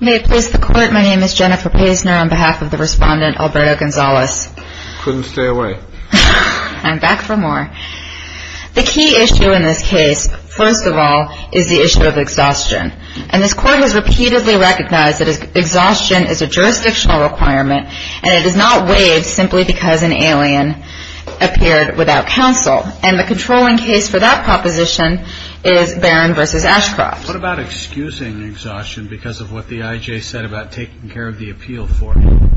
May it please the Court, my name is Jennifer Paisner on behalf of the Respondent Alberto Gonzales. Couldn't stay away. I'm back for more. The key issue in this case, first of all, is the issue of exhaustion. And this Court has repeatedly recognized that exhaustion is a jurisdictional requirement and it is not waived simply because an alien appeared without counsel. And the controlling case for that proposition is Barron v. Ashcroft. What about excusing exhaustion because of what the I.J. said about taking care of the appeal for you?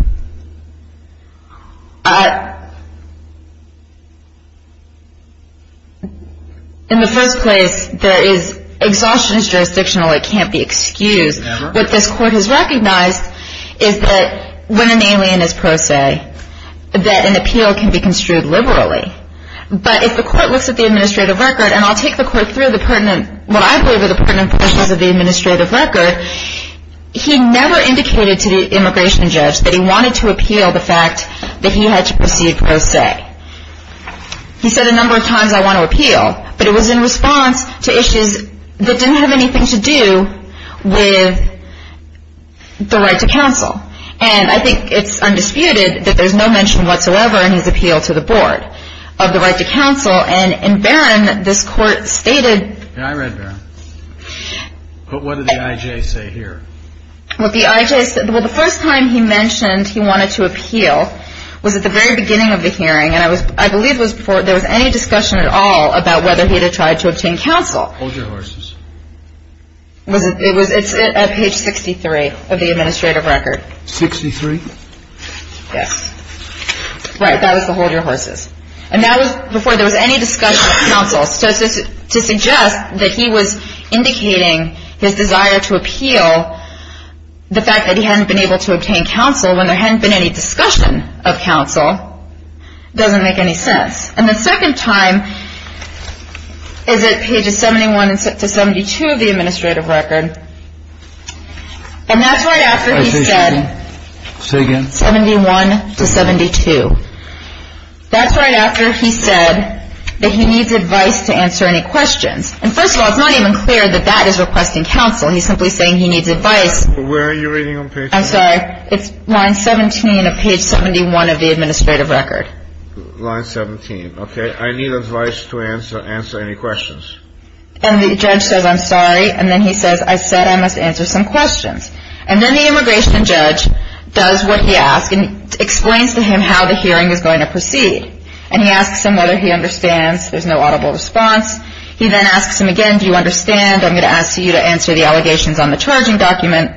In the first place, there is, exhaustion is jurisdictional, it can't be excused. Never. What this Court has recognized is that when an alien is pro se, that an appeal can be construed liberally. But if the Court looks at the administrative record, and I'll take the Court through the administrative record, he never indicated to the immigration judge that he wanted to appeal the fact that he had to proceed pro se. He said a number of times I want to appeal, but it was in response to issues that didn't have anything to do with the right to counsel. And I think it's undisputed that there's no mention whatsoever in his appeal to the Board of the right to counsel. And in Barron, this Court stated, What did the I.J. say here? Well, the I.J. said well, the first time he mentioned he wanted to appeal was at the very beginning of the hearing. And I was, I believe it was before there was any discussion at all about whether he had tried to obtain counsel. Hold your horses. It was, it's at page 63 of the administrative record. 63? Yes. Right, that was to hold your horses. And that was before there was any discussion of counsel. So to suggest that he was indicating his desire to appeal, the fact that he hadn't been able to obtain counsel when there hadn't been any discussion of counsel, doesn't make any sense. And the second time is at pages 71 to 72 of the administrative record. And that's right after he said 71 to 72. That's right after he said that he needs advice to answer any questions. And first of all, it's not even clear that that is requesting counsel. He's simply saying he needs advice. Where are you reading on page 71? I'm sorry. It's line 17 of page 71 of the administrative record. Line 17. Okay. I need advice to answer any questions. And the judge says, I'm sorry. And then he says, I said I must answer some questions. And then the immigration judge does what he asked and explains to him how the hearing is going to proceed. And he asks him whether he understands. There's no audible response. He then asks him again, do you understand? I'm going to ask you to answer the allegations on the charging document.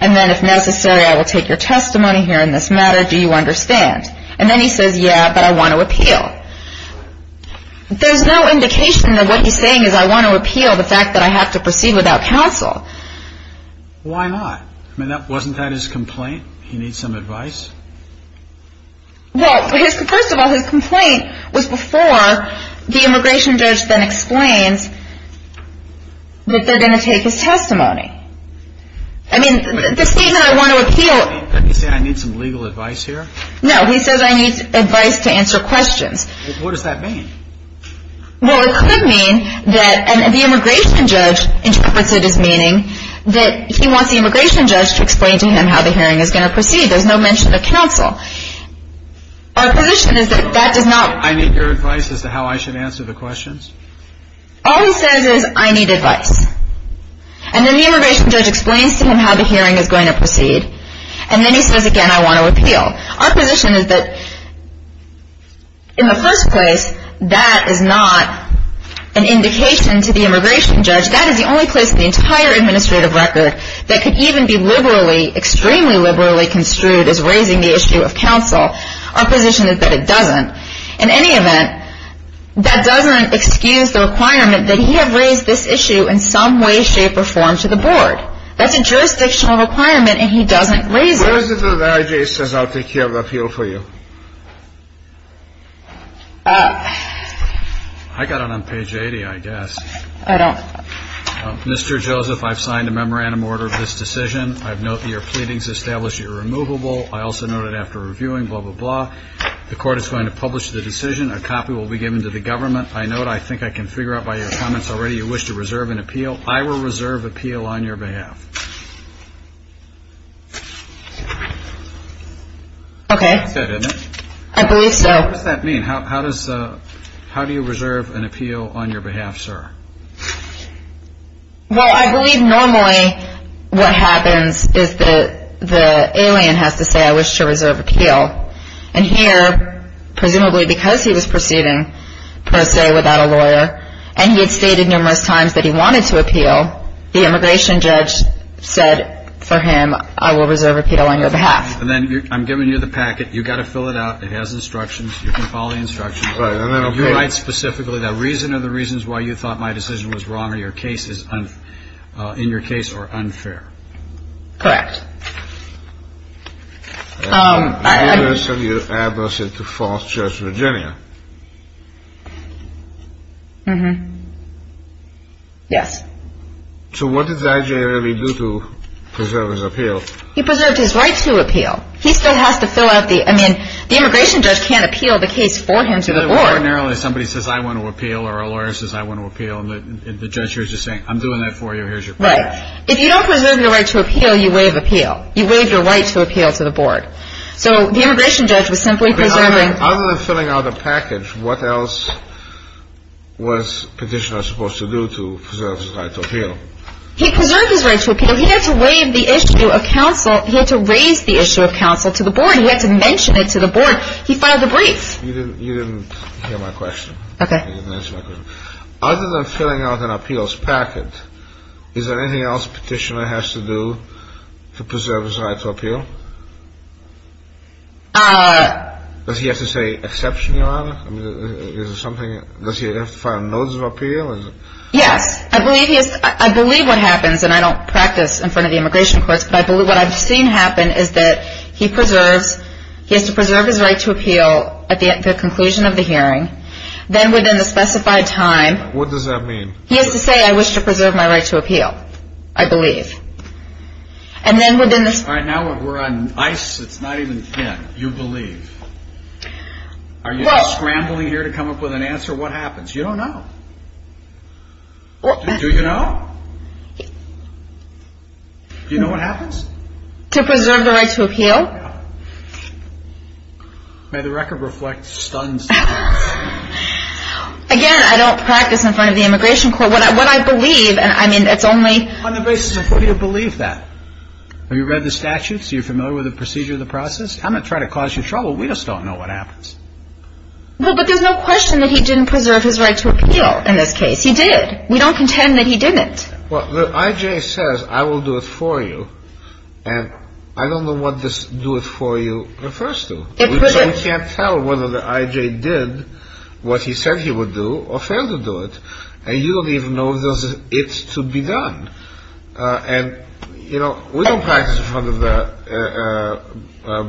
And then, if necessary, I will take your testimony here in this matter. Do you understand? And then he says, yeah, but I want to appeal. There's no indication that what he's saying is I want to appeal the fact that I have to Why not? Why not? Why not? Why not? Why not? Why not? Why not? Why not? Why not? Why not? Why not? Wasn't that his complaint? He needs some advice? Well, first of all, his complaint was before the immigration judge then explains that they're going to take his testimony. I mean, the statement, I want to appeal, Is he saying, I need some legal advice here? No, he says, I need advice to answer questions. What does that mean? Well, it could mean that, and the immigration judge interprets it as meaning, that he wants the immigration judge to explain to him how the hearing is going to proceed. There's no mention of counsel. Our position is that that does not, I need your advice as to how I should answer the questions? All he says is, I need advice. And then the immigration judge explains to him how the hearing is going to proceed. And then he says again, I want to appeal. Our position is that, in the first place, that is not an indication to the immigration judge. That is the only place in the entire administrative record that could even be liberally, extremely liberally construed as raising the issue of counsel. Our position is that it doesn't. In any event, that doesn't excuse the requirement that he have raised this issue in some way, shape, or form to the board. That's a jurisdictional requirement and he doesn't raise it. Where is it that R.J. says, I'll take care of the appeal for you? I got it on page 80, I guess. I don't. Mr. Joseph, I've signed a memorandum order of this decision. I've noted your pleadings established irremovable. I also noted after reviewing, blah, blah, blah, the court is going to publish the decision. A copy will be given to the government. I note, I think I can figure out by your comments already, you wish to reserve an appeal. I will reserve appeal on your behalf. Okay. I believe so. What does that mean? How do you reserve an appeal on your behalf, sir? Well, I believe normally what happens is the alien has to say, I wish to reserve appeal. And here, presumably because he was proceeding per se without a lawyer and he had stated numerous times that he wanted to appeal, the immigration judge said for him, I will reserve appeal on your behalf. And then I'm giving you the packet. You've got to fill it out. It has instructions. You can follow the instructions. You write specifically the reason or the reasons why you thought my decision was wrong or in your case or unfair. I assume you're addressing to Falls Church, Virginia. Mm-hmm. Yes. So what does that generally do to preserve his appeal? He preserved his right to appeal. He still has to fill out the, I mean, the immigration judge can't appeal the case for him to the board. Ordinarily, somebody says, I want to appeal or a lawyer says, I want to appeal. And the judge here is just saying, I'm doing that for you. Here's your packet. Right. If you don't preserve your right to appeal, you waive appeal. You waive your right to appeal to the board. So the immigration judge was simply preserving. Other than filling out a package, what else was Petitioner supposed to do to preserve his right to appeal? He preserved his right to appeal. He had to raise the issue of counsel to the board. He had to mention it to the board. He filed a brief. You didn't hear my question. Okay. You didn't answer my question. Other than filling out an appeals packet, is there anything else Petitioner has to do to preserve his right to appeal? Does he have to say exception, Your Honor? Does he have to file a notice of appeal? Yes. I believe what happens, and I don't practice in front of the immigration courts, but what I've seen happen is that he has to preserve his right to appeal at the conclusion of the hearing. Then within the specified time. What does that mean? He has to say, I wish to preserve my right to appeal, I believe. All right. Now we're on ice. It's not even, yeah, you believe. Are you scrambling here to come up with an answer? What happens? You don't know. Do you know? Do you know what happens? To preserve the right to appeal. May the record reflect stuns. Again, I don't practice in front of the immigration court. What I believe, I mean, it's only. On the basis of who you believe that. Have you read the statutes? Are you familiar with the procedure of the process? I'm not trying to cause you trouble. We just don't know what happens. Well, but there's no question that he didn't preserve his right to appeal in this case. He did. We don't contend that he didn't. Well, the I.J. says, I will do it for you. And I don't know what this do it for you refers to. So we can't tell whether the I.J. did what he said he would do or failed to do it. And you don't even know if it's to be done. And, you know, we don't practice in front of the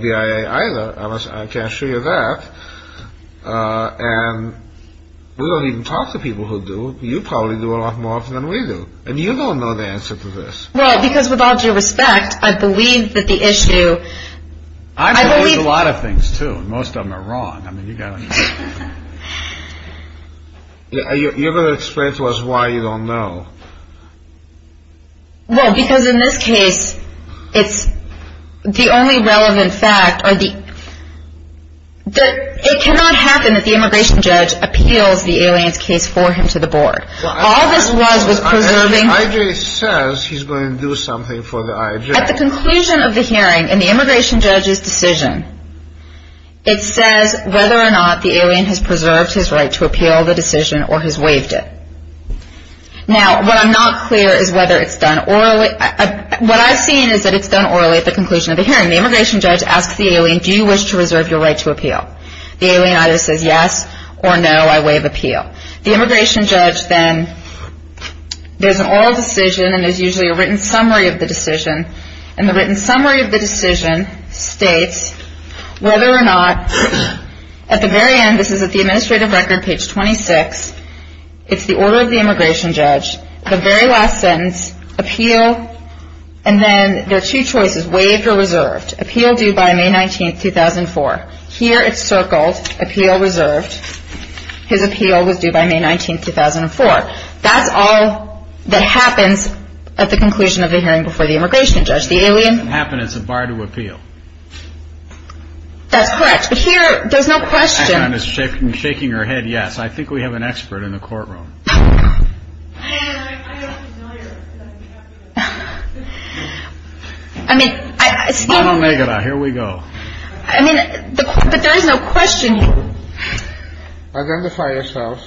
BIA either. I can assure you that. And we don't even talk to people who do. You probably do a lot more often than we do. And you don't know the answer to this. Well, because with all due respect, I believe that the issue. I believe a lot of things, too. Most of them are wrong. I mean, you got to. You got to explain to us why you don't know. Well, because in this case, it's the only relevant fact or the. It cannot happen that the immigration judge appeals the aliens case for him to the board. All this was preserving. I.J. says he's going to do something for the I.J. At the conclusion of the hearing and the immigration judge's decision. It says whether or not the alien has preserved his right to appeal the decision or has waived it. Now, what I'm not clear is whether it's done orally. What I've seen is that it's done orally at the conclusion of the hearing. The immigration judge asks the alien, do you wish to reserve your right to appeal? The alien either says yes or no. I waive appeal. The immigration judge then. There's an oral decision and there's usually a written summary of the decision. And the written summary of the decision states whether or not at the very end. This is at the administrative record, page 26. It's the order of the immigration judge. The very last sentence, appeal. And then there are two choices, waived or reserved. Appeal due by May 19th, 2004. Here it's circled, appeal reserved. His appeal was due by May 19th, 2004. That's all that happens at the conclusion of the hearing before the immigration judge. The alien. It doesn't happen. It's a bar to appeal. That's correct. But here, there's no question. I found this shaking her head, yes. I think we have an expert in the courtroom. I don't make it up. Here we go. I mean, but there is no question here. Identify yourself.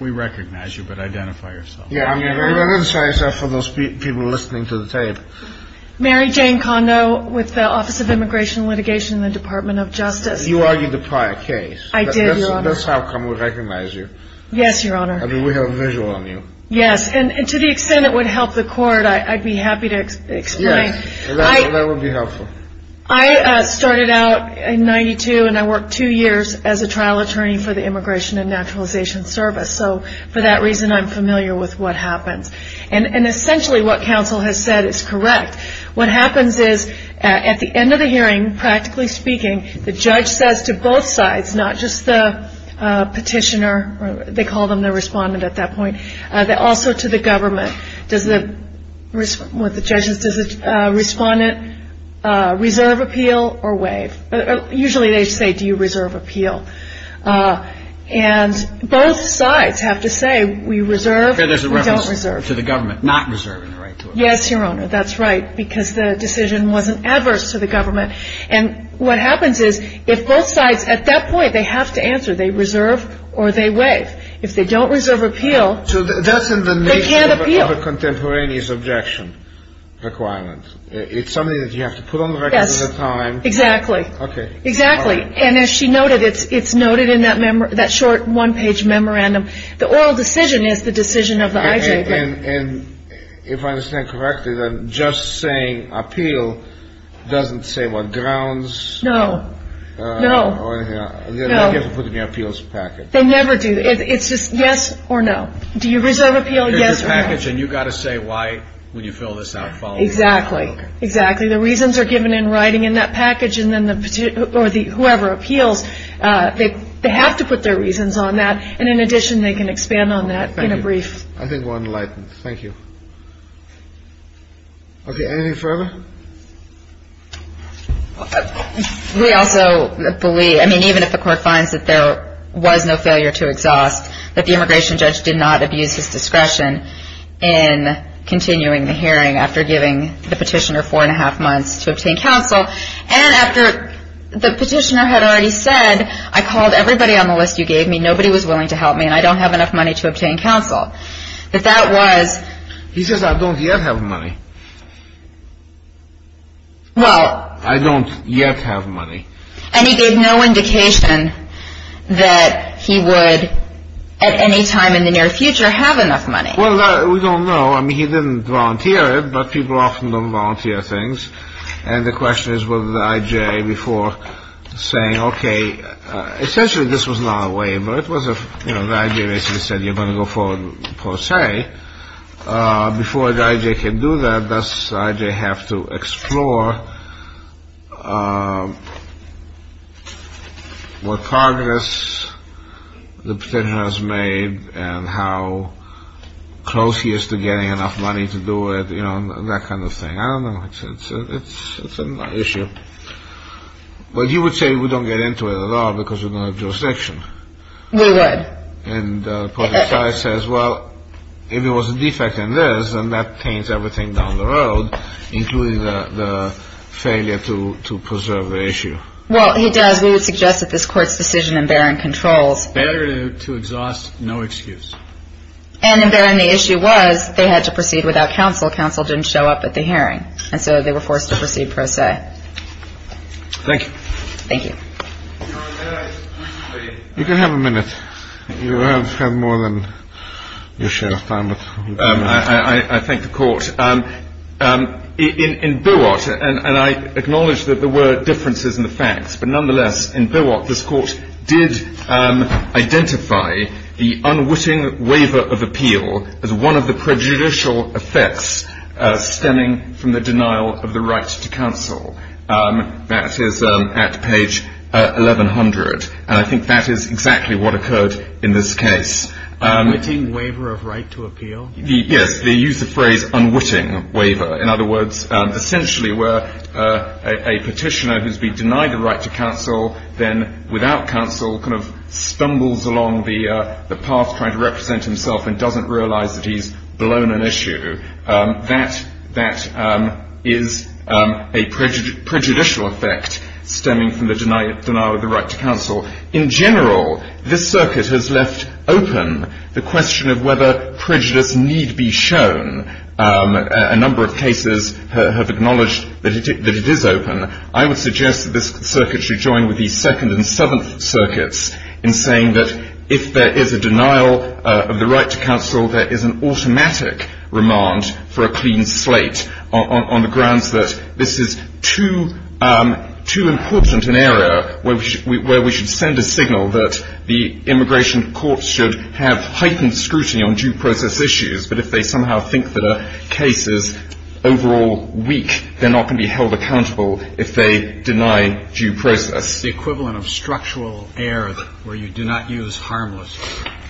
We recognize you, but identify yourself. Yeah, I'm going to identify myself for those people listening to the tape. Mary Jane Kondo with the Office of Immigration Litigation in the Department of Justice. You argued the prior case. I did, Your Honor. That's how come we recognize you. Yes, Your Honor. I mean, we have a visual on you. Yes, and to the extent it would help the court, I'd be happy to explain. Yes, that would be helpful. I started out in 92, and I worked two years as a trial attorney for the Immigration and Naturalization Service. So for that reason, I'm familiar with what happens. And essentially what counsel has said is correct. What happens is at the end of the hearing, practically speaking, the judge says to both sides, not just the petitioner, they call them the respondent at that point, but also to the government, does the respondent reserve appeal or waive? Usually they say, do you reserve appeal? And both sides have to say, we reserve, we don't reserve. There's a reference to the government not reserving the right to appeal. Yes, Your Honor, that's right, because the decision wasn't adverse to the government. And what happens is if both sides at that point, they have to answer, they reserve or they waive. If they don't reserve appeal, they can't appeal. So that's in the nature of a contemporaneous objection requirement. It's something that you have to put on the record at the time. Yes, exactly. Okay. Exactly. And as she noted, it's noted in that short one-page memorandum. The oral decision is the decision of the IJ. And if I understand correctly, then just saying appeal doesn't say what, grounds? No. No. No. They never do. It's just yes or no. Do you reserve appeal, yes or no? There's a package, and you've got to say why when you fill this out. Exactly. Exactly. The reasons are given in writing in that package, and then whoever appeals, they have to put their reasons on that. And in addition, they can expand on that in a brief. Thank you. I think we're enlightened. Thank you. Okay. Anything further? We also believe, I mean, even if the court finds that there was no failure to exhaust, that the immigration judge did not abuse his discretion in continuing the hearing after giving the petitioner four-and-a-half months to obtain counsel, and after the petitioner had already said, I called everybody on the list you gave me, nobody was willing to help me, and I don't have enough money to obtain counsel. He says, I don't yet have money. I don't yet have money. And he gave no indication that he would, at any time in the near future, have enough money. Well, we don't know. I mean, he didn't volunteer it, but people often don't volunteer things. And the question is, was the IJA before saying, okay, essentially this was not a waiver. It was a, you know, the IJA basically said you're going to go forward per se. Before the IJA can do that, does the IJA have to explore what progress the petitioner has made and how close he is to getting enough money to do it, you know, that kind of thing. I don't know. It's an issue. Well, you would say we don't get into it at all because we don't have jurisdiction. We would. And Poteci says, well, if there was a defect in this, then that paints everything down the road, including the failure to preserve the issue. Well, he does. We would suggest that this Court's decision in Baron controls. Better to exhaust no excuse. And in Baron, the issue was they had to proceed without counsel. Counsel didn't show up at the hearing, and so they were forced to proceed per se. Thank you. Thank you. You can have a minute. You have more than your share of time. I thank the Court. In Buat, and I acknowledge that there were differences in the facts, but nonetheless, in Buat, this Court did identify the unwitting waiver of appeal as one of the prejudicial effects stemming from the denial of the right to counsel. That is at page 1100. And I think that is exactly what occurred in this case. Unwitting waiver of right to appeal? Yes. They used the phrase unwitting waiver. In other words, essentially where a petitioner who has been denied the right to counsel then, without counsel, kind of stumbles along the path trying to represent himself and doesn't realize that he's blown an issue. That is a prejudicial effect stemming from the denial of the right to counsel. In general, this circuit has left open the question of whether prejudice need be shown. A number of cases have acknowledged that it is open. I would suggest that this circuit should join with the Second and Seventh Circuits in saying that if there is a denial of the right to counsel, there is an automatic remand for a clean slate on the grounds that this is too important an area where we should send a signal that the immigration courts should have heightened scrutiny on due process issues. But if they somehow think that a case is overall weak, they're not going to be held accountable if they deny due process. It's the equivalent of structural error where you do not use harmless.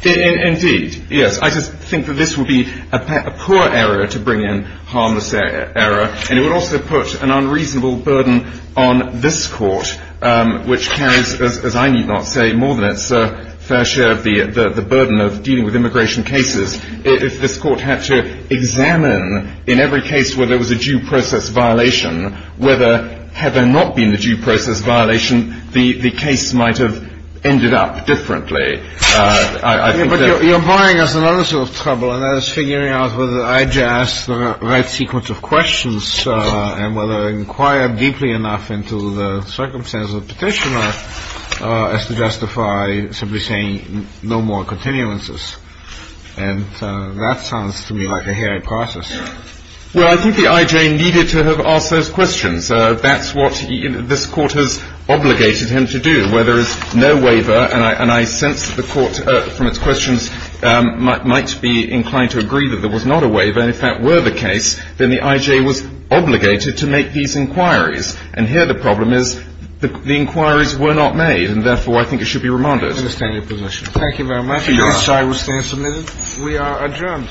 Indeed. Yes. I just think that this would be a poor error to bring in harmless error. And it would also put an unreasonable burden on this Court, which carries, as I need not say, more than its fair share of the burden of dealing with immigration cases, if this Court had to examine in every case where there was a due process violation whether, had there not been a due process violation, the case might have ended up differently. But you're borrowing us another sort of trouble, and that is figuring out whether the IJ asked the right sequence of questions and whether inquired deeply enough into the circumstances of the petitioner as to justify simply saying no more continuances. And that sounds to me like a hairy process. Well, I think the IJ needed to have asked those questions. That's what this Court has obligated him to do, where there is no waiver. And I sense that the Court, from its questions, might be inclined to agree that there was not a waiver. And if that were the case, then the IJ was obligated to make these inquiries. And here the problem is the inquiries were not made, and therefore I think it should be remanded. I understand your position. Thank you very much. This side will stand submitted. We are adjourned.